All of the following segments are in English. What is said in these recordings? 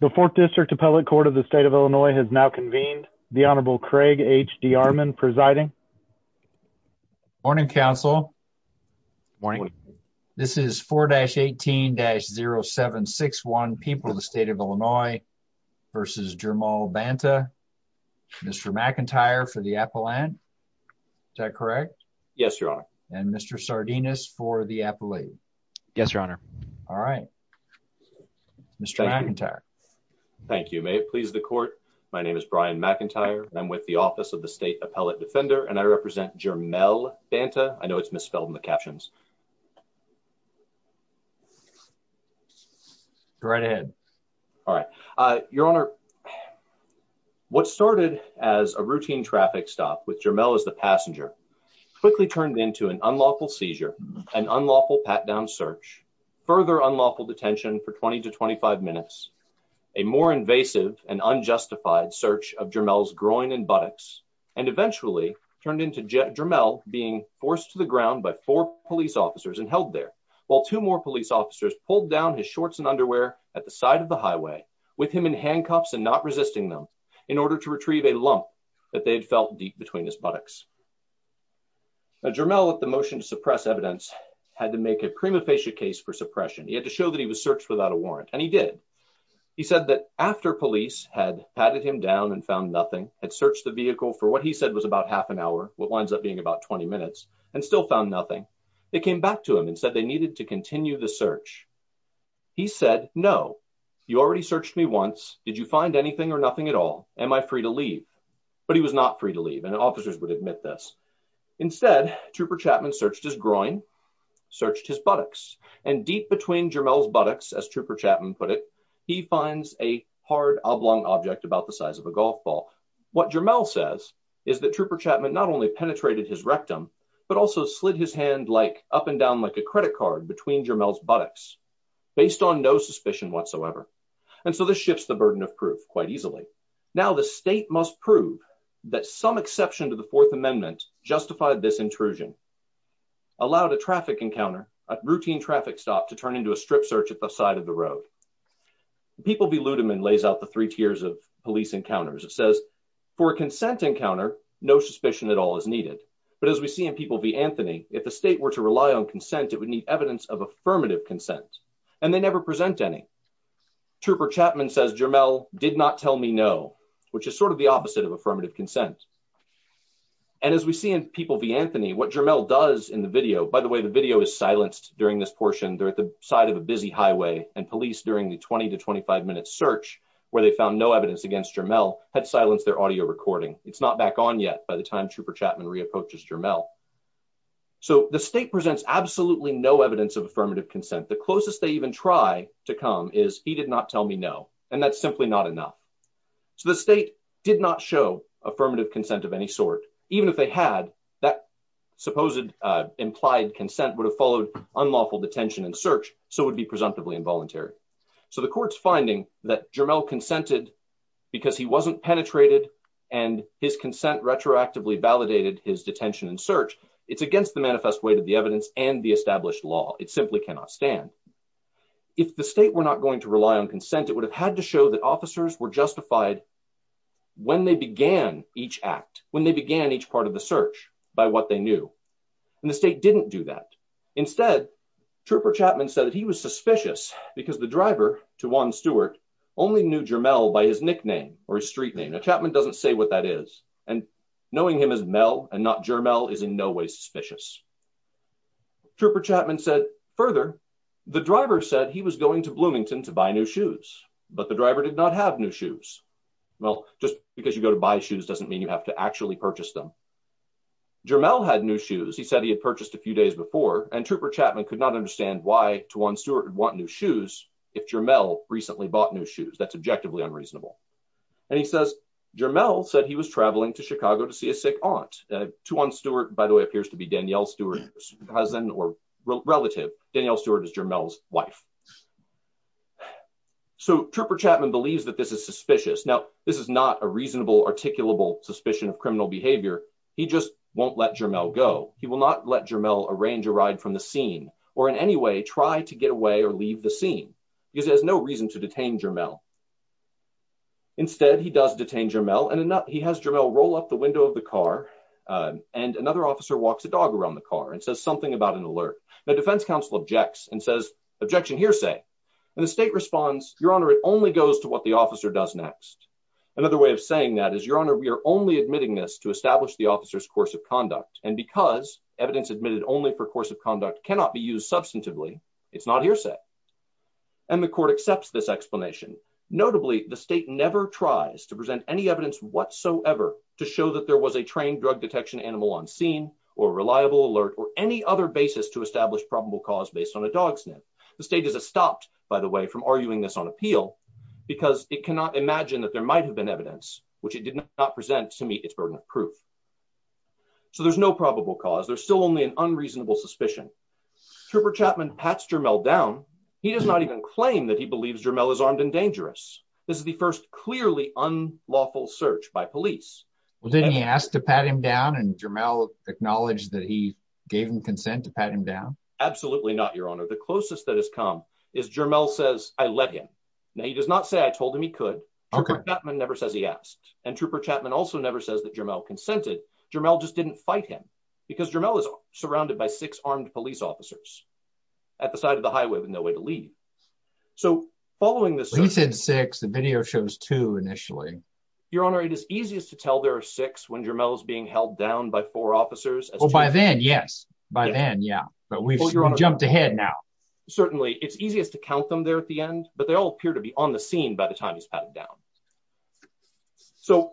The 4th District Appellate Court of the State of Illinois has now convened. The Honorable Craig H. D. Armond presiding. Morning, Counsel. Morning. This is 4-18-0761, People of the State of Illinois v. Jermall Banta. Mr. McIntyre for the Appellant. Is that correct? Yes, Your Honor. And Mr. Sardinus for the Appellate. Yes, Your Honor. Alright. Mr. McIntyre. Thank you. May it please the Court, my name is Brian McIntyre and I'm with the Office of the State Appellate Defender and I represent Jermall Banta. I know it's misspelled in the captions. Go right ahead. Alright. Your Honor, what started as a routine traffic stop with Jermall as the passenger quickly turned into an unlawful seizure, an unlawful pat-down search, further unlawful detention for 20 to 25 minutes, a more invasive and unjustified search of Jermall's groin and buttocks, and eventually turned into Jermall being forced to the ground by four police officers and held there, while two more police officers pulled down his shorts and underwear at the side of the highway, with him in handcuffs and not resisting them, in order to retrieve a lump that they had felt deep between his buttocks. Jermall, with the motion to suppress evidence, had to make a prima facie case for suppression. He had to show that he was searched without a warrant, and he did. He said that after police had patted him down and found nothing, had searched the vehicle for what he said was about half an hour, what winds up being about 20 minutes, and still found nothing, they came back to him and said they needed to continue the search. He said, no, you already searched me once, did you find anything or nothing at all? Am I free to leave? But he was not free to leave, and officers would admit this. Instead, Trooper Chapman searched his groin, searched his buttocks, and deep between Jermall's buttocks, as Trooper Chapman put it, he finds a hard oblong object about the size of a golf ball. What Jermall says is that Trooper Chapman not only penetrated his rectum, but also slid his hand up and down like a credit card between Jermall's buttocks, based on no suspicion whatsoever. And so this shifts the burden of proof quite easily. Now the state must prove that some exception to the Fourth Amendment justified this intrusion, allowed a traffic encounter, a routine traffic stop, to turn into a strip search at the side of the road. People v. Ludeman lays out the three tiers of police encounters. It says, for a consent encounter, no suspicion at all is needed. But as we see in People v. Anthony, if the state were to rely on consent, it would need evidence of affirmative consent, and they never present any. Trooper Chapman says Jermall did not tell me no, which is sort of the opposite of affirmative consent. And as we see in People v. Anthony, what Jermall does in the video, by the way, the video is silenced during this portion, they're at the side of a busy highway, and police during the 20 to 25 minute search, where they found no evidence against Jermall, had silenced their audio recording. It's not back on yet by the time Trooper Chapman re-approaches Jermall. So the state presents absolutely no evidence of affirmative consent. The closest they even try to come is, he did not tell me no, and that's simply not enough. So the state did not show affirmative consent of any sort. Even if they had, that supposed implied consent would have followed unlawful detention and search, so it would be presumptively involuntary. So the court's finding that Jermall consented because he wasn't penetrated, and his consent retroactively validated his detention and search, it's against the manifest way to the evidence and the established law, it simply cannot stand. If the state were not going to rely on consent, it would have had to show that officers were justified when they began each act, when they began each part of the search, by what they knew. And the state didn't do that. Instead, Trooper Chapman said that he was suspicious, because the driver to Juan Stewart only knew Jermall by his nickname, or his street name. Now Chapman doesn't say what that is, and knowing him as Mel and not Jermall is in no way suspicious. Trooper Chapman said further, the driver said he was going to Bloomington to buy new shoes, but the driver did not have new shoes. Well, just because you go to buy shoes doesn't mean you have to actually purchase them. Jermall had new shoes, he said he had purchased a few days before, and Trooper Chapman could not understand why Juan Stewart would want new shoes, if Jermall recently bought new shoes, that's objectively unreasonable. And he says, Jermall said he was traveling to Chicago to see a sick aunt. Juan Stewart, by the way, appears to be Danielle Stewart's cousin or relative, Danielle Stewart is Jermall's wife. So Trooper Chapman believes that this is suspicious. Now, this is not a reasonable articulable suspicion of criminal behavior, he just won't let Jermall go, he will not let Jermall arrange a ride from the scene, or in any way try to get away or leave the scene, because he has no reason to detain Jermall. Instead, he does detain Jermall, and he has Jermall roll up the window of the car, and another officer walks a dog around the car and says something about an alert. The defense counsel objects and says, objection hearsay. And the state responds, Your Honor, it only goes to what the officer does next. Another way of saying that is, Your Honor, we are only admitting this to establish the officer's course of conduct, and because evidence admitted only for course of conduct cannot be used substantively, it's not hearsay. And the court accepts this explanation. Notably, the state never tries to present any evidence whatsoever to show that there was a trained drug detection animal on scene, or reliable alert, or any other basis to establish probable cause based on a dog sniff. The state is stopped, by the way, from arguing this on appeal, because it cannot imagine that there might have been evidence, which it did not present to meet its burden of proof. So there's no probable cause. There's still only an unreasonable suspicion. Trooper Chapman pats Jermall down. He does not even claim that he believes Jermall is armed and dangerous. This is the first clearly unlawful search by police. Well, didn't he ask to pat him down and Jermall acknowledged that he gave him consent to pat him down? Absolutely not, Your Honor. The closest that has come is Jermall says, I let him. Now he does not say I told him he could. Trooper Chapman never says he asked. And Trooper Chapman also never says that Jermall consented. Jermall just didn't fight him. Because Jermall is surrounded by six armed police officers at the side of the highway with no way to leave. So, following this... He said six, the video shows two initially. Your Honor, it is easiest to tell there are six when Jermall is being held down by four officers. By then, yes. By then, yeah. But we've jumped ahead now. Certainly, it's easiest to count them there at the end, but they all appear to be on the scene by the time he's patted down. So,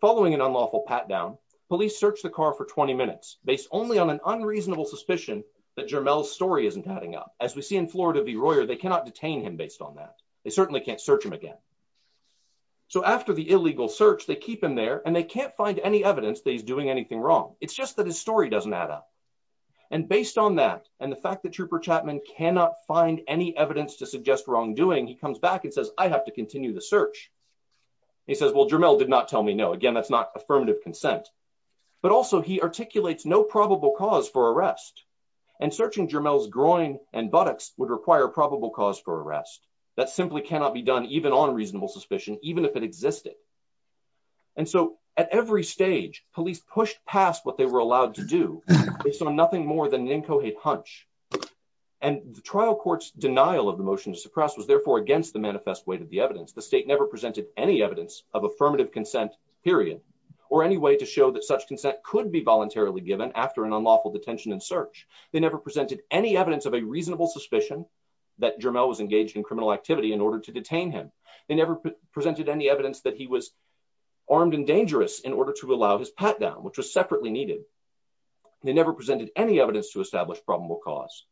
following an unlawful pat down, police search the car for 20 minutes based only on an unreasonable suspicion that Jermall's story isn't adding up. As we see in Florida v. Royer, they cannot detain him based on that. They certainly can't search him again. So, after the illegal search, they keep him there, and they can't find any evidence that he's doing anything wrong. It's just that his story doesn't add up. And based on that, and the fact that Trooper Chapman cannot find any evidence to suggest wrongdoing, he comes back and says, I have to continue the search. He says, well, Jermall did not tell me no. Again, that's not affirmative consent. But also, he articulates no probable cause for arrest. And searching Jermall's groin and buttocks would require probable cause for arrest. That simply cannot be done even on reasonable suspicion, even if it existed. And so, at every stage, police pushed past what they were allowed to do, based on nothing more than an incoherent hunch. And the trial court's denial of the motion to suppress was therefore against the manifest weight of the evidence. The state never presented any evidence of affirmative consent, period, or any way to show that such consent could be voluntarily given after an unlawful detention and search. They never presented any evidence of a reasonable suspicion that Jermall was engaged in criminal activity in order to detain him. They never presented any evidence that he was armed and dangerous in order to allow his pat down, which was separately needed. They never presented any evidence to establish probable cause.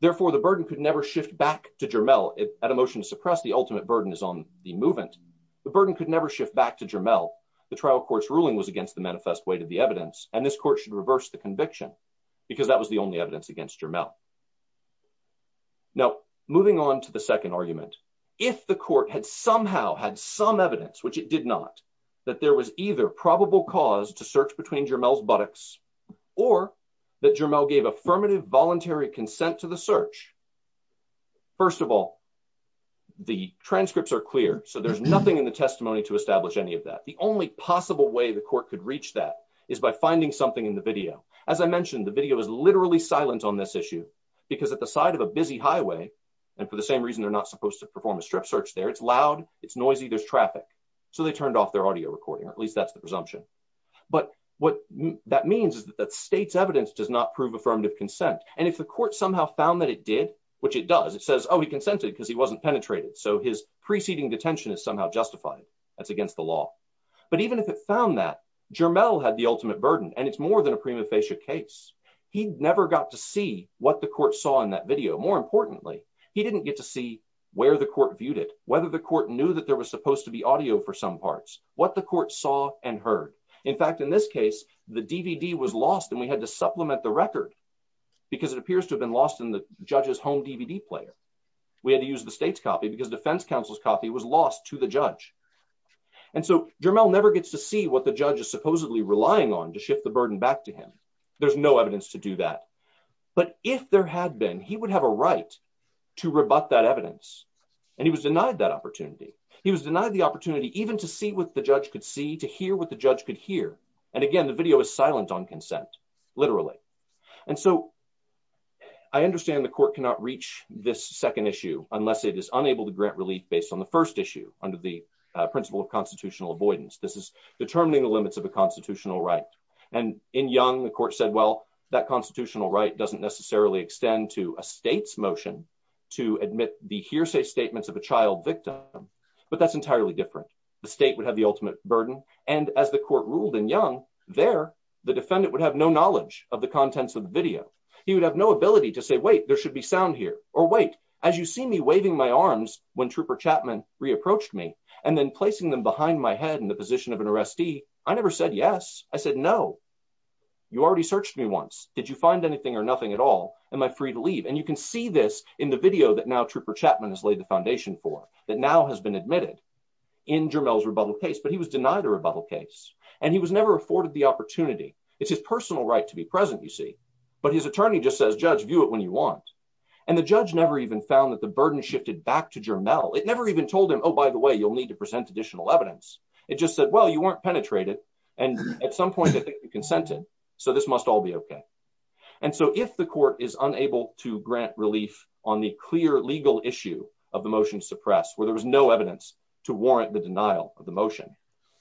Therefore, the burden could never shift back to Jermall. At a motion to suppress, the ultimate burden is on the movement. The burden could never shift back to Jermall. The trial court's ruling was against the manifest weight of the evidence, and this court should reverse the conviction, because that was the only evidence against Jermall. Now, moving on to the second argument. If the court had somehow had some evidence, which it did not, that there was either probable cause to search between Jermall's buttocks, or that Jermall gave affirmative voluntary consent to the search, first of all, the transcripts are clear, so there's nothing in the testimony to establish any of that. The only possible way the court could reach that is by finding something in the video. As I mentioned, the video is literally silent on this issue, because at the side of a busy highway, and for the same reason they're not supposed to perform a strip search there, it's loud, it's noisy, there's traffic, so they turned off their audio recording, or at least that's the presumption. But what that means is that the state's evidence does not prove affirmative consent, and if the court somehow found that it did, which it does, it says, oh, he consented because he wasn't penetrated, so his preceding detention is somehow justified. That's against the law. But even if it found that, Jermall had the ultimate burden, and it's more than a prima facie case. He never got to see what the court saw in that video. More importantly, he didn't get to see where the court viewed it, whether the court knew that there was supposed to be audio for some parts, what the court saw and heard. In fact, in this case, the DVD was lost and we had to supplement the record, because it appears to have been lost in the judge's home DVD player. We had to use the state's copy because defense counsel's copy was lost to the judge. And so, Jermall never gets to see what the judge is supposedly relying on to shift the burden back to him. There's no evidence to do that. But if there had been, he would have a right to rebut that evidence, and he was denied that opportunity. He was denied the opportunity even to see what the judge could see, to hear what the judge could hear. And again, the video is silent on consent, literally. And so, I understand the court cannot reach this second issue, unless it is unable to grant relief based on the first issue, under the principle of constitutional avoidance. This is determining the limits of a constitutional right. And in Young, the court said, well, that constitutional right doesn't necessarily extend to a state's motion to admit the hearsay statements of a child victim, but that's entirely different. The state would have the ultimate burden, and as the court ruled in Young, there, the defendant would have no knowledge of the contents of the video. He would have no ability to say, wait, there should be sound here, or wait, as you see me waving my arms, when Trooper Chapman re-approached me, and then placing them behind my head in the position of an arrestee, I never said yes. I said, no. You already searched me once. Did you find anything or nothing at all? Am I free to leave? And you can see this in the video that now Trooper Chapman has laid the foundation for, that now has been admitted in Jermel's rebuttal case, but he was denied a rebuttal case. And he was never afforded the opportunity. It's his personal right to be present, you see. But his attorney just says, judge, view it when you want. And the judge never even found that the burden shifted back to Jermel. It never even told him, oh, by the way, you'll need to present additional evidence. It just said, well, you weren't penetrated, and at some point I think you consented, so this must all be okay. And so if the court is unable to grant relief on the clear legal issue of the motion to suppress, where there was no evidence to warrant the denial of the motion,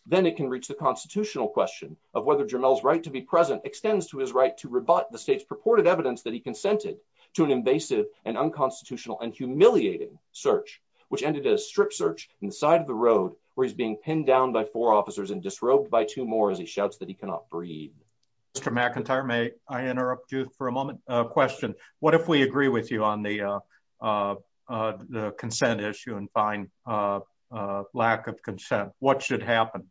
then it can reach the constitutional question of whether Jermel's right to be present extends to his right to rebut the state's purported evidence that he consented to an invasive and unconstitutional and humiliating search, which ended a strip search inside of the road, where he's being pinned down by four officers and disrobed by two more as he shouts that he cannot breathe. Mr. McIntyre, may I interrupt you for a moment? A question. What if we agree with you on the consent issue and find lack of consent? What should happen?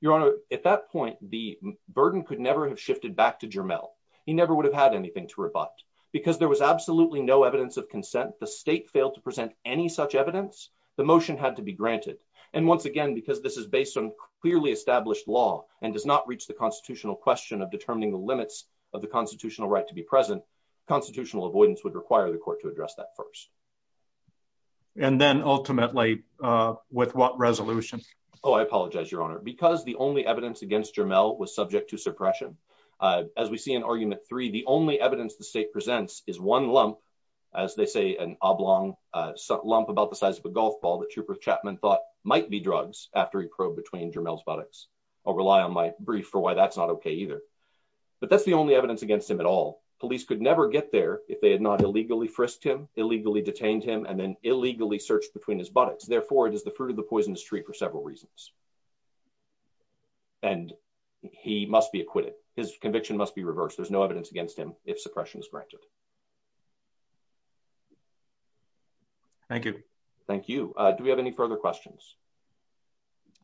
Your Honor, at that point, the burden could never have shifted back to Jermel. He never would have had anything to rebut. Because there was absolutely no evidence of consent, the state failed to present any such evidence, the motion had to be granted. And once again, because this is based on clearly established law and does not reach the constitutional question of determining the limits of the constitutional right to be present, constitutional avoidance would require the court to address that first. And then ultimately, with what resolution? Oh, I apologize, Your Honor, because the only evidence against Jermel was subject to suppression. As we see in argument three, the only evidence the state presents is one lump, as they say, an oblong lump about the size of a golf ball that Shupert Chapman thought might be drugs after he probed between Jermel's buttocks. I'll rely on my brief for why that's not okay either. But that's the only evidence against him at all. Police could never get there if they had not illegally frisked him, illegally detained him, and then illegally searched between his buttocks. Therefore, it is the fruit of the poisonous tree for several reasons. And he must be acquitted. His conviction must be reversed. There's no evidence against him if suppression is granted. Thank you. Thank you. Do we have any further questions?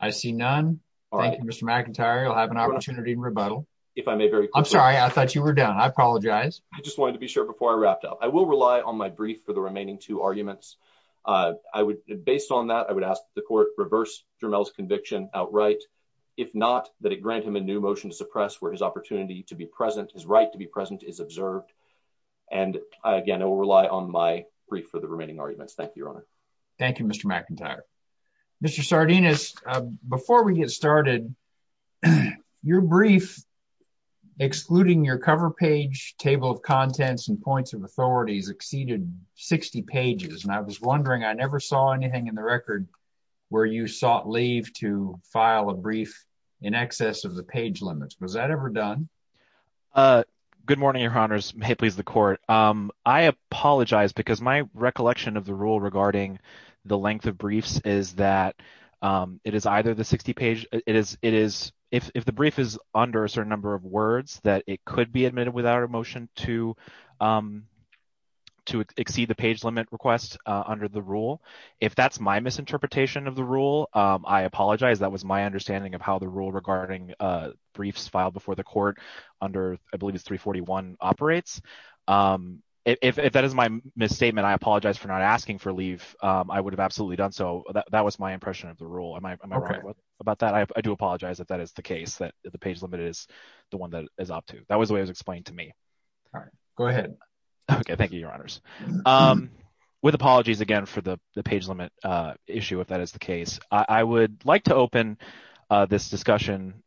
I see none. Thank you, Mr. McIntyre. You'll have an opportunity in rebuttal. I'm sorry. I thought you were done. I apologize. I just wanted to be sure before I wrapped up. I will rely on my brief for the remaining two arguments. Based on that, I would ask the court to reverse Jermel's conviction outright. If not, that it grant him a new motion to suppress where his opportunity to be present, his right to be present is observed. And again, I will rely on my brief for the remaining arguments. Thank you, Your Honor. Thank you, Mr. McIntyre. Mr. Sardinis, before we get started, your brief excluding your cover page, table of contents, and points of authorities exceeded 60 pages. And I was wondering, I never saw anything in the record where you sought leave to file a brief in excess of the page limits. Was that ever done? Good morning, Your Honors. May it please the court. I apologize because my recollection of the rule regarding the length of briefs is that it is either the 60 page. It is it is if the brief is under a certain number of words that it could be admitted without a motion to to exceed the page limit request under the rule. If that's my misinterpretation of the rule, I apologize. That was my understanding of how the rule regarding briefs filed before the court under I believe it's 341 operates. If that is my misstatement, I apologize for not asking for leave. I would have absolutely done so. That was my impression of the rule. Am I right about that? I do apologize if that is the case, that the page limit is the one that is up to. That was the way it was explained to me. All right. Go ahead. Okay. Thank you, Your Honors. With apologies again for the page limit issue, if that is the case. I would like to open this discussion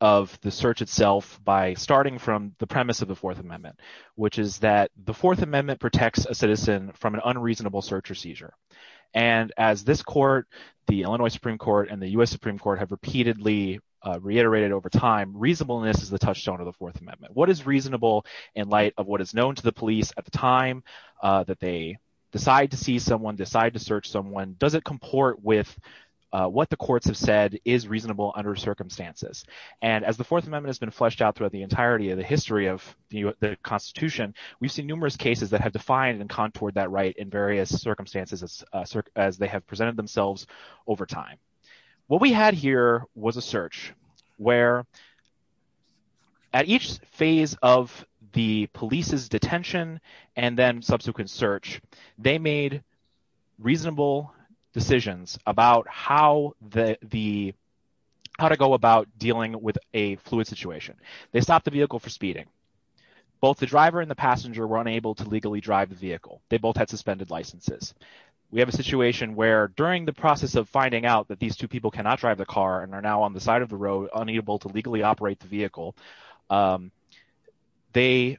of the search itself by starting from the premise of the Fourth Amendment, which is that the Fourth Amendment protects a citizen from an unreasonable search or seizure. And as this court, the Illinois Supreme Court and the US Supreme Court have repeatedly reiterated over time, reasonableness is the touchstone of the Fourth Amendment. What is reasonable in light of what is known to the police at the time that they decide to see someone, decide to search someone? Does it comport with what the courts have said is reasonable under circumstances? And as the Fourth Amendment has been fleshed out throughout the entirety of the history of the Constitution, we've seen numerous cases that have defined and contoured that right in various circumstances as they have presented themselves over time. What we had here was a search where at each phase of the police's detention and then subsequent search, they made reasonable decisions about how to go about dealing with a fluid situation. They stopped the vehicle for speeding. Both the driver and the passenger were unable to legally drive the vehicle. They both had suspended licenses. We have a situation where during the process of finding out that these two people cannot drive the car and are now on the side of the road, unable to legally operate the vehicle, they,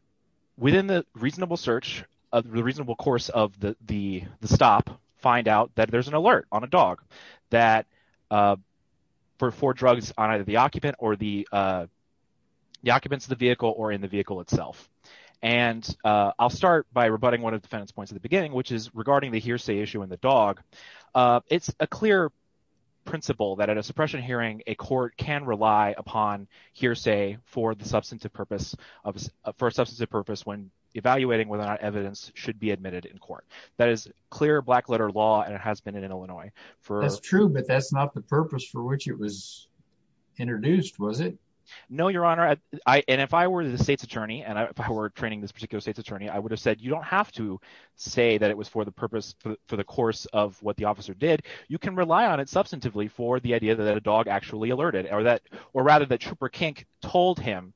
within the reasonable search of the reasonable course of the stop, find out that there's an alert on a dog that for four drugs on either the occupant or the occupants of the vehicle or in the vehicle itself. And I'll start by rebutting one of the defendant's points at the beginning, which is regarding the hearsay issue in the dog. It's a clear principle that at a suppression hearing, a court can rely upon hearsay for the substantive purpose of – for a substantive purpose when evaluating whether or not evidence should be admitted in court. That is clear black-letter law, and it has been in Illinois. That's true, but that's not the purpose for which it was introduced, was it? No, Your Honor. And if I were the state's attorney and if I were training this particular state's attorney, I would have said you don't have to say that it was for the purpose – for the course of what the officer did. You can rely on it substantively for the idea that a dog actually alerted or that – or rather that Trooper Kink told him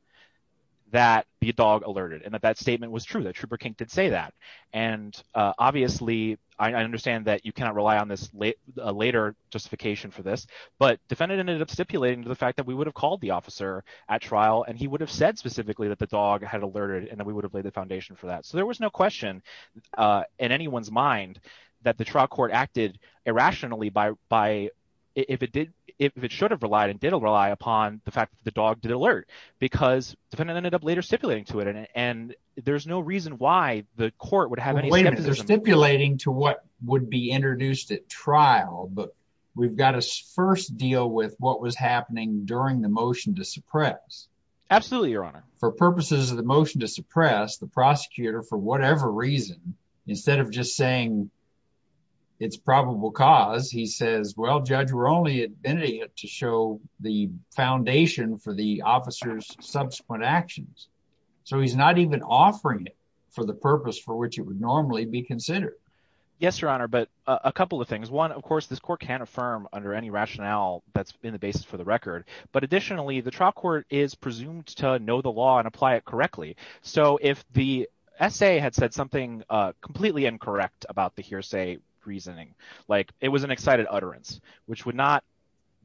that the dog alerted and that that statement was true, that Trooper Kink did say that. And obviously, I understand that you cannot rely on this later justification for this, but defendant ended up stipulating to the fact that we would have called the officer at trial, and he would have said specifically that the dog had alerted and that we would have laid the foundation for that. So there was no question in anyone's mind that the trial court acted irrationally by – if it did – if it should have relied and did rely upon the fact that the dog did alert because defendant ended up later stipulating to it. And there's no reason why the court would have any skepticism. They're stipulating to what would be introduced at trial, but we've got to first deal with what was happening during the motion to suppress. Absolutely, Your Honor. For purposes of the motion to suppress, the prosecutor, for whatever reason, instead of just saying it's probable cause, he says, well, Judge, we're only admitting it to show the foundation for the officer's subsequent actions. So he's not even offering it for the purpose for which it would normally be considered. Yes, Your Honor, but a couple of things. One, of course, this court can't affirm under any rationale that's been the basis for the record. But additionally, the trial court is presumed to know the law and apply it correctly. So if the essay had said something completely incorrect about the hearsay reasoning, like it was an excited utterance, which would not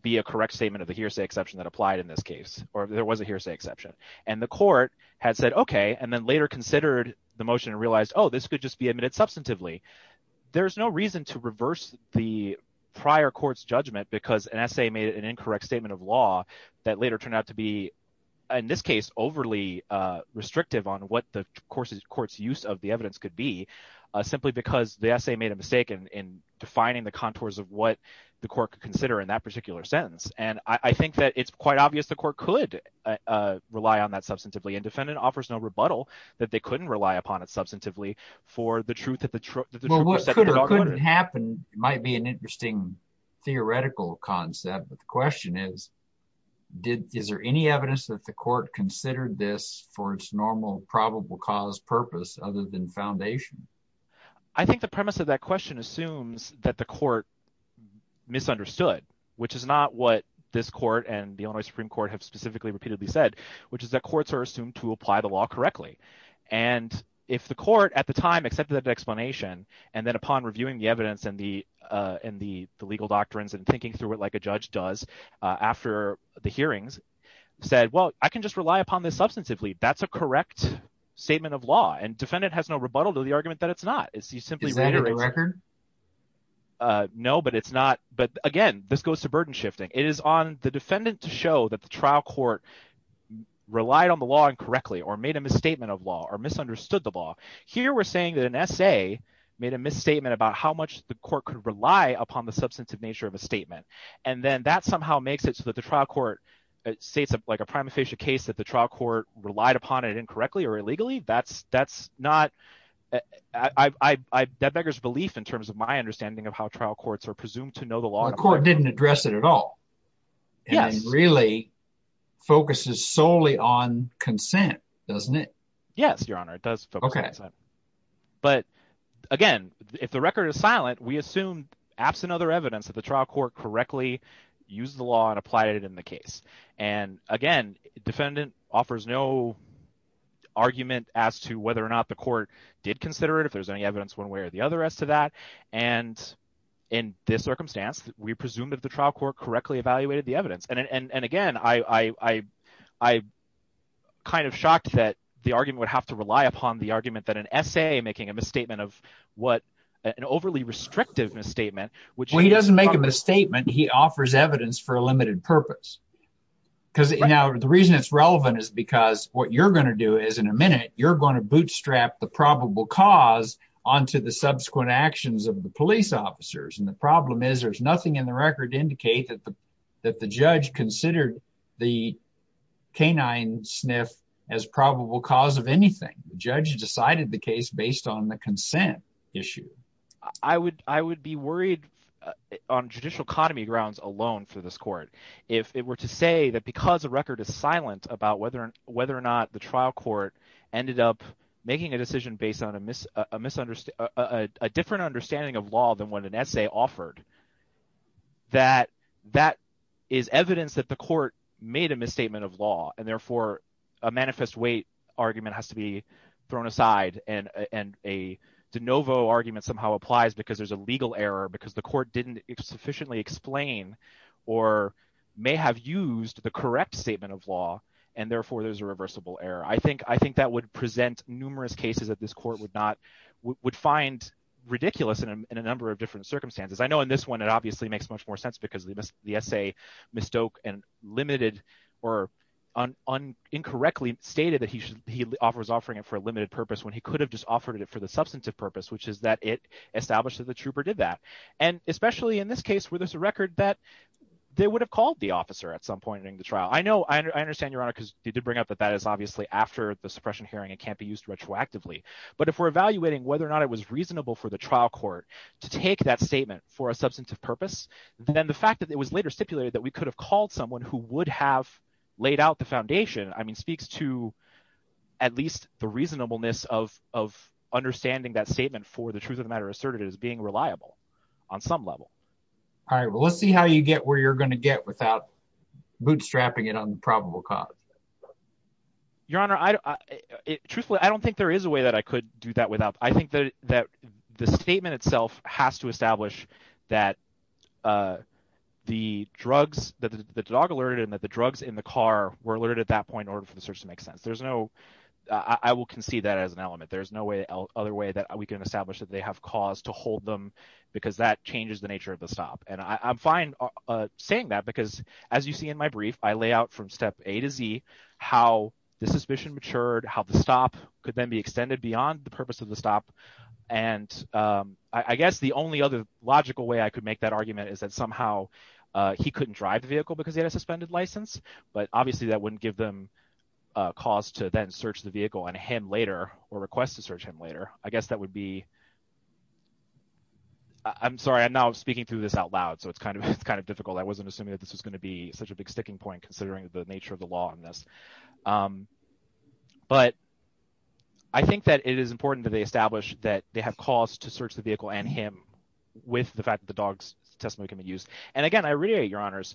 be a correct statement of the hearsay exception that applied in this case or if there was a hearsay exception. And the court had said, OK, and then later considered the motion and realized, oh, this could just be admitted substantively. There is no reason to reverse the prior court's judgment because an essay made an incorrect statement of law that later turned out to be, in this case, overly restrictive on what the court's use of the evidence could be, simply because the essay made a mistake in defining the contours of what the court could consider in that particular sentence. And I think that it's quite obvious the court could rely on that substantively. And defendant offers no rebuttal that they couldn't rely upon it substantively for the truth of the truth. Well, what could or couldn't happen might be an interesting theoretical concept. But the question is, is there any evidence that the court considered this for its normal probable cause purpose other than foundation? I think the premise of that question assumes that the court misunderstood, which is not what this court and the only Supreme Court have specifically repeatedly said, which is that courts are assumed to apply the law correctly. And if the court at the time accepted that explanation and then upon reviewing the evidence and the and the legal doctrines and thinking through it like a judge does after the hearings said, well, I can just rely upon this substantively. That's a correct statement of law. And defendant has no rebuttal to the argument that it's not. Is that a record? No, but it's not. But again, this goes to burden shifting. It is on the defendant to show that the trial court relied on the law incorrectly or made a misstatement of law or misunderstood the law. Here we're saying that an essay made a misstatement about how much the court could rely upon the substantive nature of a statement. And then that somehow makes it so that the trial court states like a prima facie case that the trial court relied upon it incorrectly or illegally. That's not – that beggars belief in terms of my understanding of how trial courts are presumed to know the law. The court didn't address it at all and really focuses solely on consent, doesn't it? Yes, Your Honor. It does focus on consent. But again, if the record is silent, we assume absent other evidence that the trial court correctly used the law and applied it in the case. And again, defendant offers no argument as to whether or not the court did consider it, if there's any evidence one way or the other as to that. And in this circumstance, we presume that the trial court correctly evaluated the evidence. And again, I'm kind of shocked that the argument would have to rely upon the argument that an essay making a misstatement of what – an overly restrictive misstatement. Well, he doesn't make a misstatement. He offers evidence for a limited purpose. Now, the reason it's relevant is because what you're going to do is, in a minute, you're going to bootstrap the probable cause onto the subsequent actions of the police officers. And the problem is there's nothing in the record to indicate that the judge considered the canine sniff as probable cause of anything. The judge decided the case based on the consent issue. I would be worried on judicial economy grounds alone for this court if it were to say that because the record is silent about whether or not the trial court ended up making a decision based on a different understanding of law than what an essay offered, that that is evidence that the court made a misstatement of law. And therefore, a manifest weight argument has to be thrown aside, and a de novo argument somehow applies because there's a legal error because the court didn't sufficiently explain or may have used the correct statement of law. And therefore, there's a reversible error. I think that would present numerous cases that this court would find ridiculous in a number of different circumstances. I know in this one it obviously makes much more sense because the essay mistook and limited or incorrectly stated that he was offering it for a limited purpose when he could have just offered it for the substantive purpose, which is that it established that the trooper did that. And especially in this case where there's a record that they would have called the officer at some point in the trial. I know – I understand, Your Honor, because you did bring up that that is obviously after the suppression hearing. It can't be used retroactively. But if we're evaluating whether or not it was reasonable for the trial court to take that statement for a substantive purpose, then the fact that it was later stipulated that we could have called someone who would have laid out the foundation speaks to at least the reasonableness of understanding that statement for the truth of the matter asserted as being reliable on some level. All right, well, let's see how you get where you're going to get without bootstrapping it on the probable cause. Your Honor, truthfully, I don't think there is a way that I could do that without – I think that the statement itself has to establish that the drugs – that the dog alerted and that the drugs in the car were alerted at that point in order for the search to make sense. There's no – I will concede that as an element. But there's no other way that we can establish that they have cause to hold them because that changes the nature of the stop. And I'm fine saying that because, as you see in my brief, I lay out from step A to Z how the suspicion matured, how the stop could then be extended beyond the purpose of the stop. And I guess the only other logical way I could make that argument is that somehow he couldn't drive the vehicle because he had a suspended license, but obviously that wouldn't give them cause to then search the vehicle and him later or request to search him later. I guess that would be – I'm sorry. I'm now speaking through this out loud, so it's kind of difficult. I wasn't assuming that this was going to be such a big sticking point considering the nature of the law on this. But I think that it is important that they establish that they have cause to search the vehicle and him with the fact that the dog's testimony can be used. And again, I reiterate, Your Honors,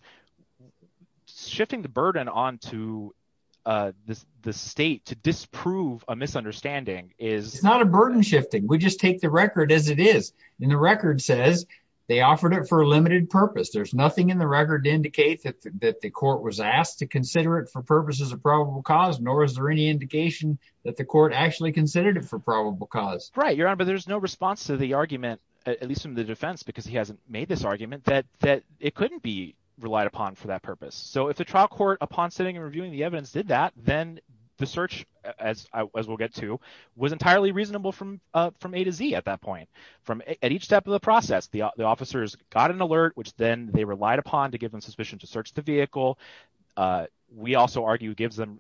shifting the burden onto the state to disprove a misunderstanding is… And the record says they offered it for a limited purpose. There's nothing in the record to indicate that the court was asked to consider it for purposes of probable cause, nor is there any indication that the court actually considered it for probable cause. Right, Your Honor, but there's no response to the argument, at least from the defense because he hasn't made this argument, that it couldn't be relied upon for that purpose. So if the trial court, upon sitting and reviewing the evidence, did that, then the search, as we'll get to, was entirely reasonable from A to Z at that point. At each step of the process, the officers got an alert, which then they relied upon to give them suspicion to search the vehicle. We also argue it gives them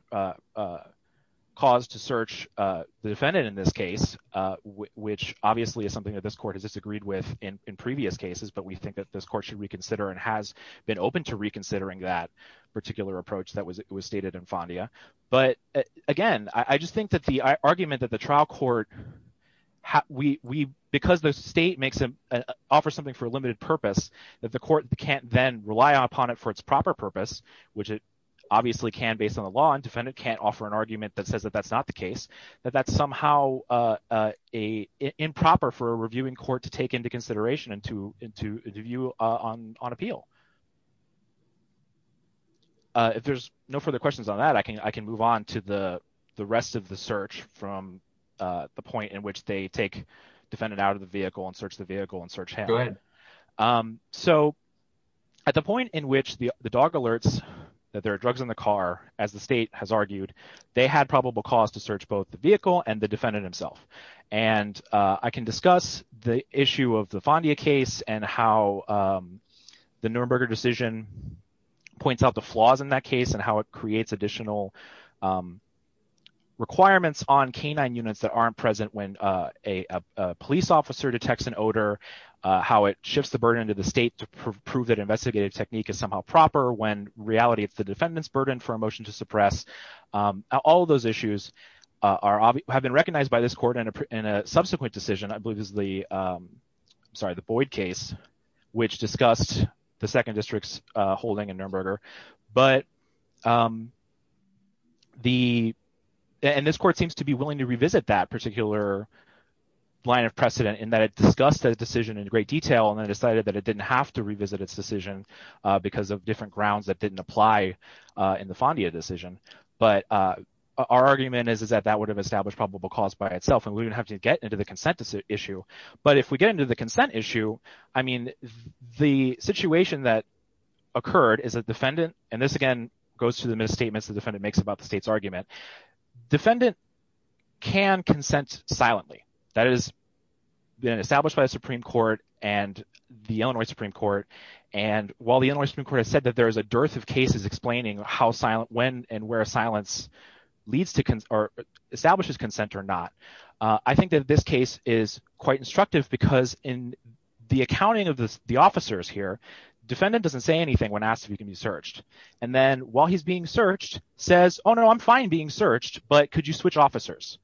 cause to search the defendant in this case, which obviously is something that this court has disagreed with in previous cases. But we think that this court should reconsider and has been open to reconsidering that particular approach that was stated in FONDIA. But, again, I just think that the argument that the trial court – because the state offers something for a limited purpose, that the court can't then rely upon it for its proper purpose, which it obviously can based on the law, and the defendant can't offer an argument that says that that's not the case, that that's somehow improper for a reviewing court to take into consideration and to view on appeal. If there's no further questions on that, I can move on to the rest of the search from the point in which they take the defendant out of the vehicle and search the vehicle and search him. So at the point in which the dog alerts that there are drugs in the car, as the state has argued, they had probable cause to search both the vehicle and the defendant himself. And I can discuss the issue of the FONDIA case and how the Nuremberg decision points out the flaws in that case and how it creates additional requirements on canine units that aren't present when a police officer detects an odor, how it shifts the burden to the state to prove that investigative technique is somehow proper when, in reality, it's the defendant's burden for a motion to suppress. All of those issues have been recognized by this court in a subsequent decision, I believe, is the Boyd case, which discussed the 2nd District's holding in Nuremberg. But the – and this court seems to be willing to revisit that particular line of precedent in that it discussed that decision in great detail and then decided that it didn't have to revisit its decision because of different grounds that didn't apply in the FONDIA decision. But our argument is that that would have established probable cause by itself, and we don't have to get into the consent issue. But if we get into the consent issue, I mean, the situation that occurred is that defendant – and this, again, goes to the misstatements the defendant makes about the state's argument – defendant can consent silently. That has been established by the Supreme Court and the Illinois Supreme Court. And while the Illinois Supreme Court has said that there is a dearth of cases explaining how – when and where silence leads to – or establishes consent or not, I think that this case is quite instructive because in the accounting of the officers here, defendant doesn't say anything when asked if he can be searched. And then while he's being searched, says, oh, no, I'm fine being searched, but could you switch officers?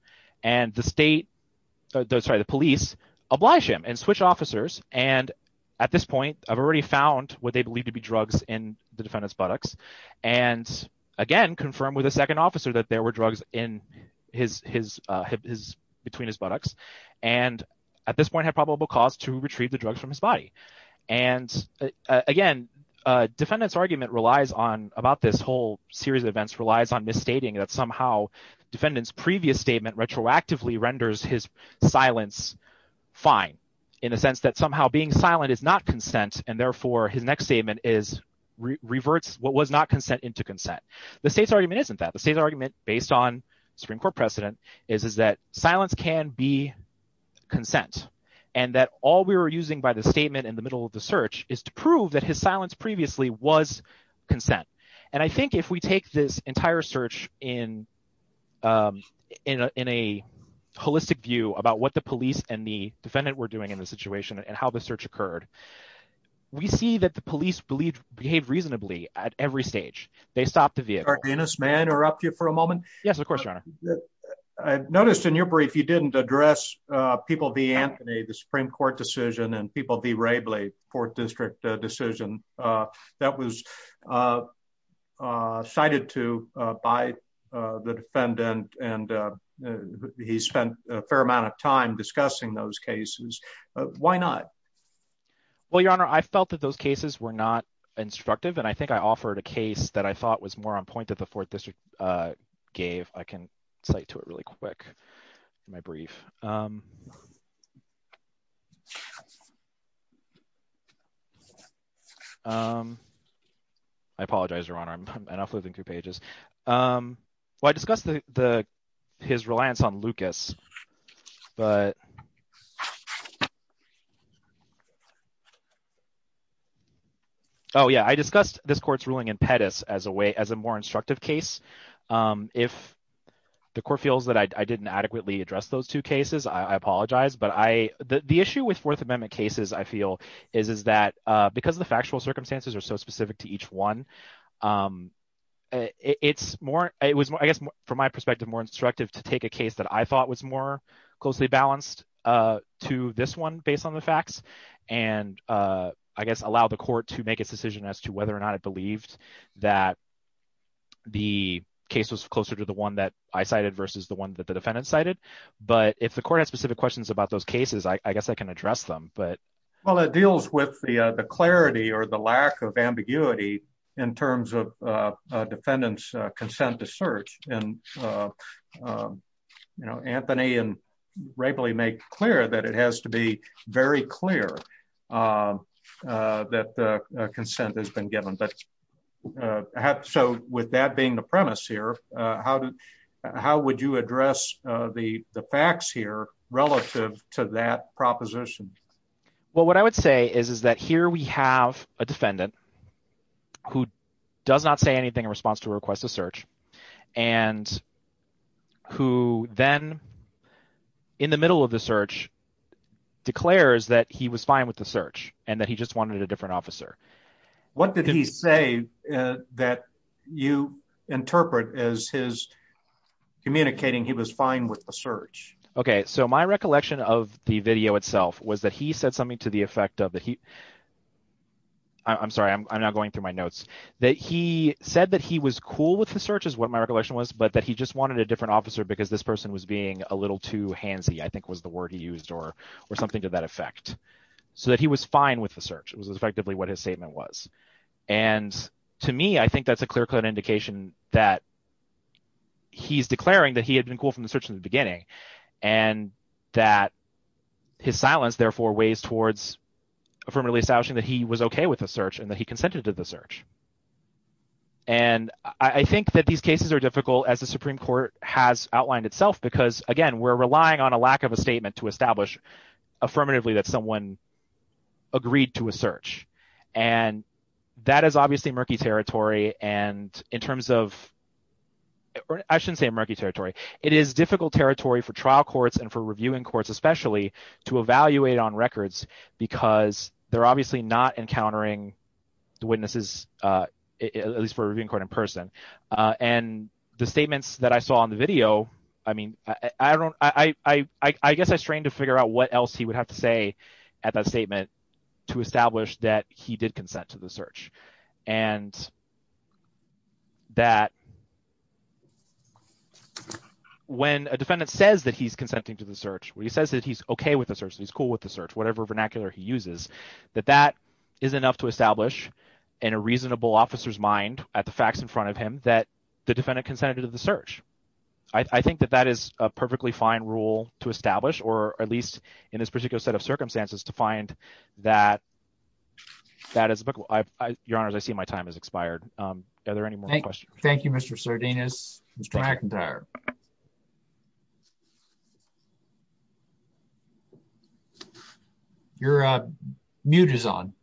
And the state – sorry, the police oblige him and switch officers. And at this point, I've already found what they believe to be drugs in the defendant's buttocks and, again, confirmed with a second officer that there were drugs in his – between his buttocks and at this point had probable cause to retrieve the drugs from his body. And, again, defendant's argument relies on – about this whole series of events relies on misstating that somehow defendant's previous statement retroactively renders his silence fine in the sense that somehow being silent is not consent, and therefore his next statement reverts what was not consent into consent. The state's argument isn't that. The state's argument, based on Supreme Court precedent, is that silence can be consent and that all we were using by the statement in the middle of the search is to prove that his silence previously was consent. And I think if we take this entire search in a holistic view about what the police and the defendant were doing in the situation and how the search occurred, we see that the police behaved reasonably at every stage. They stopped the vehicle. – May I interrupt you for a moment? – Yes, of course, Your Honor. – I noticed in your brief you didn't address people v. Anthony, the Supreme Court decision, and people v. Wrabley, the 4th District decision that was cited to by the defendant, and he spent a fair amount of time discussing those cases. Why not? – Well, Your Honor, I felt that those cases were not instructive, and I think I offered a case that I thought was more on point that the 4th District gave. I can cite to it really quick in my brief. I apologize, Your Honor. I'm enough within two pages. Well, I discussed his reliance on Lucas, but – oh, yeah, I discussed this court's ruling in Pettis as a more instructive case. If the court feels that I didn't adequately address those two cases, I apologize, but the issue with Fourth Amendment cases, I feel, is that because the factual circumstances are so specific to each one, it was, I guess, from my perspective, more instructive to take a case that I thought was more closely balanced to this one based on the facts and, I guess, allow the court to make its decision as to whether or not it believed that the case was closer to the one that I cited versus the one that the defendant cited. But if the court has specific questions about those cases, I guess I can address them. Well, it deals with the clarity or the lack of ambiguity in terms of defendants' consent to search, and Anthony and Rapley make clear that it has to be very clear that consent has been given. So with that being the premise here, how would you address the facts here relative to that proposition? Well, what I would say is that here we have a defendant who does not say anything in response to a request to search and who then, in the middle of the search, declares that he was fine with the search and that he just wanted a different officer. What did he say that you interpret as his communicating he was fine with the search? Okay, so my recollection of the video itself was that he said something to the effect of that he—I'm sorry, I'm not going through my notes—that he said that he was cool with the search is what my recollection was, but that he just wanted a different officer because this person was being a little too handsy, I think was the word he used, or something to that effect. So that he was fine with the search was effectively what his statement was. And to me, I think that's a clear-cut indication that he's declaring that he had been cool from the search in the beginning and that his silence, therefore, weighs towards affirmatively establishing that he was okay with the search and that he consented to the search. And I think that these cases are difficult, as the Supreme Court has outlined itself, because, again, we're relying on a lack of a statement to establish affirmatively that someone agreed to a search. And that is obviously murky territory, and in terms of—I shouldn't say murky territory. It is difficult territory for trial courts and for reviewing courts especially to evaluate on records because they're obviously not encountering the witnesses, at least for a reviewing court in person. And the statements that I saw on the video – I mean, I don't – I guess I strained to figure out what else he would have to say at that statement to establish that he did consent to the search. And that when a defendant says that he's consenting to the search, when he says that he's okay with the search, he's cool with the search, whatever vernacular he uses, that that is enough to establish in a reasonable officer's mind at the facts in front of him that the defendant consented to the search. I think that that is a perfectly fine rule to establish, or at least in this particular set of circumstances, to find that that is applicable. Your Honors, I see my time has expired. Are there any more questions? Thank you, Mr. Sardinus. Mr. McIntyre. Your mute is on.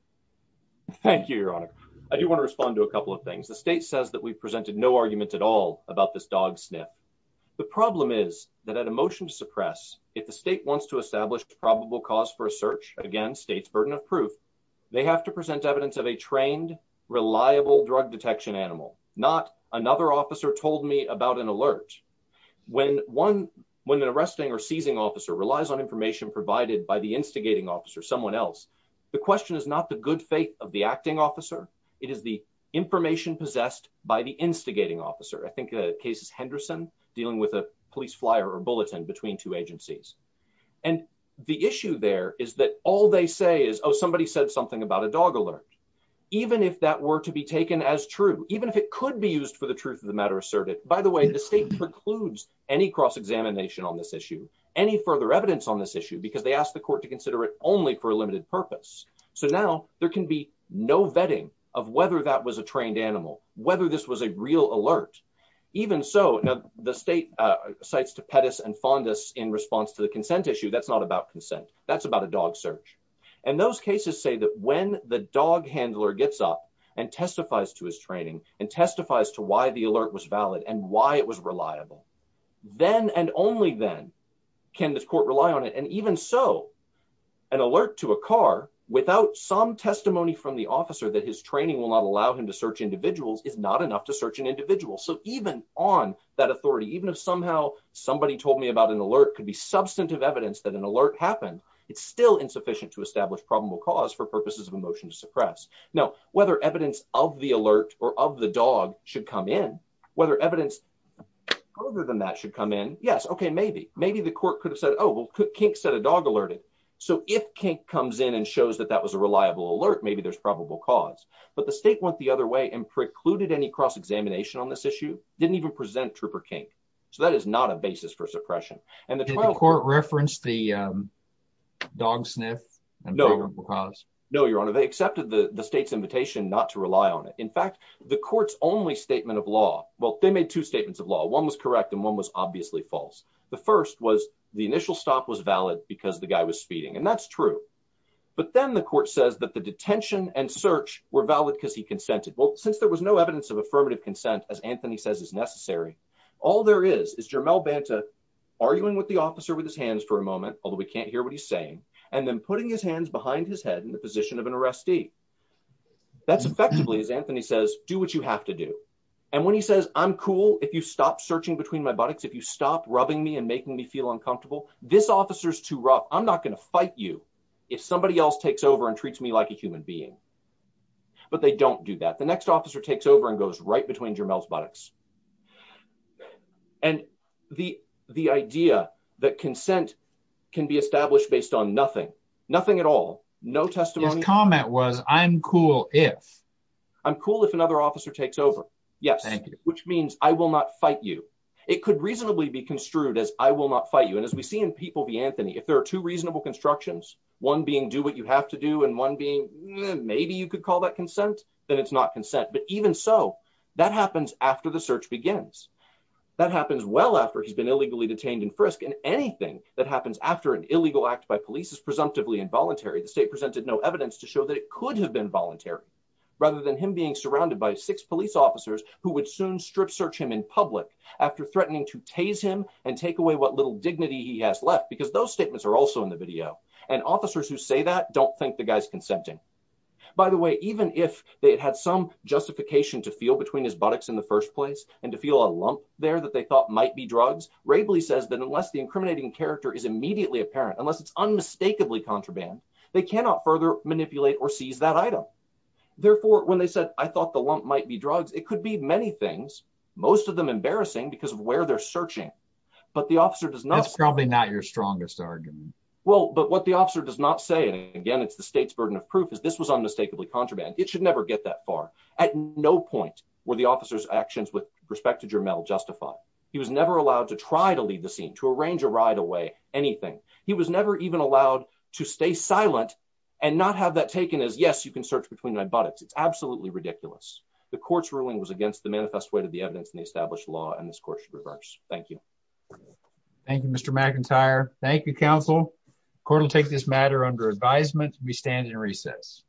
Thank you, Your Honor. I do want to respond to a couple of things. The state says that we've presented no argument at all about this dog sniff. The problem is that at a motion to suppress, if the state wants to establish probable cause for a search – again, state's burden of proof – they have to present evidence of a trained, reliable drug detection animal, not another officer told me about an alert. When an arresting or seizing officer relies on information provided by the instigating officer, someone else, the question is not the good faith of the acting officer, it is the information possessed by the instigating officer. I think the case is Henderson, dealing with a police flyer or bulletin between two agencies. And the issue there is that all they say is, oh, somebody said something about a dog alert. Even if that were to be taken as true, even if it could be used for the truth of the matter asserted – by the way, the state precludes any cross-examination on this issue, any further evidence on this issue, because they ask the court to consider it only for a limited purpose. So now, there can be no vetting of whether that was a trained animal, whether this was a real alert. Even so, the state cites to Pettis and Fondas in response to the consent issue. That's not about consent. That's about a dog search. And those cases say that when the dog handler gets up and testifies to his training and testifies to why the alert was valid and why it was reliable, then and only then can the court rely on it. And even so, an alert to a car without some testimony from the officer that his training will not allow him to search individuals is not enough to search an individual. So even on that authority, even if somehow somebody told me about an alert could be substantive evidence that an alert happened, it's still insufficient to establish probable cause for purposes of a motion to suppress. Now, whether evidence of the alert or of the dog should come in, whether evidence other than that should come in, yes, okay, maybe. Maybe the court could have said, oh, well, Kink said a dog alerted. So if Kink comes in and shows that that was a reliable alert, maybe there's probable cause. But the state went the other way and precluded any cross-examination on this issue, didn't even present Trooper Kink. So that is not a basis for suppression. Did the court reference the dog sniff and probable cause? No, Your Honor, they accepted the state's invitation not to rely on it. In fact, the court's only statement of law, well, they made two statements of law. One was correct and one was obviously false. The first was the initial stop was valid because the guy was speeding, and that's true. But then the court says that the detention and search were valid because he consented. Well, since there was no evidence of affirmative consent, as Anthony says, is necessary, all there is is Jermel Banta arguing with the officer with his hands for a moment, although he can't hear what he's saying, and then putting his hands behind his head in the position of an arrestee. That's effectively, as Anthony says, do what you have to do. And when he says, I'm cool if you stop searching between my buttocks, if you stop rubbing me and making me feel uncomfortable, this officer's too rough. I'm not going to fight you if somebody else takes over and treats me like a human being. But they don't do that. The next officer takes over and goes right between Jermel's buttocks. And the idea that consent can be established based on nothing, nothing at all, no testimony. His comment was, I'm cool if. I'm cool if another officer takes over. Yes, which means I will not fight you. It could reasonably be construed as I will not fight you. And as we see in People v. Anthony, if there are two reasonable constructions, one being do what you have to do and one being maybe you could call that consent, then it's not consent. But even so, that happens after the search begins. That happens well after he's been illegally detained in Frisk and anything that happens after an illegal act by police is presumptively involuntary. The state presented no evidence to show that it could have been voluntary, rather than him being surrounded by six police officers who would soon strip search him in public after threatening to tase him and take away what little dignity he has left. Because those statements are also in the video. And officers who say that don't think the guy's consenting. By the way, even if they had some justification to feel between his buttocks in the first place and to feel a lump there that they thought might be drugs, Raibley says that unless the incriminating character is immediately apparent, unless it's unmistakably contraband, they cannot further manipulate or seize that item. Therefore, when they said, I thought the lump might be drugs, it could be many things, most of them embarrassing because of where they're searching. But the officer does not... That's probably not your strongest argument. Well, but what the officer does not say, and again, it's the state's burden of proof, is this was unmistakably contraband. It should never get that far. At no point were the officer's actions with respect to Jermel justified. He was never allowed to try to leave the scene, to arrange a ride away, anything. He was never even allowed to stay silent and not have that taken as, yes, you can search between my buttocks. It's absolutely ridiculous. The court's ruling was against the manifest way to the evidence in the established law, and this court should reverse. Thank you. Thank you, Mr. McIntyre. Thank you, counsel. The court will take this matter under advisement. We stand in recess.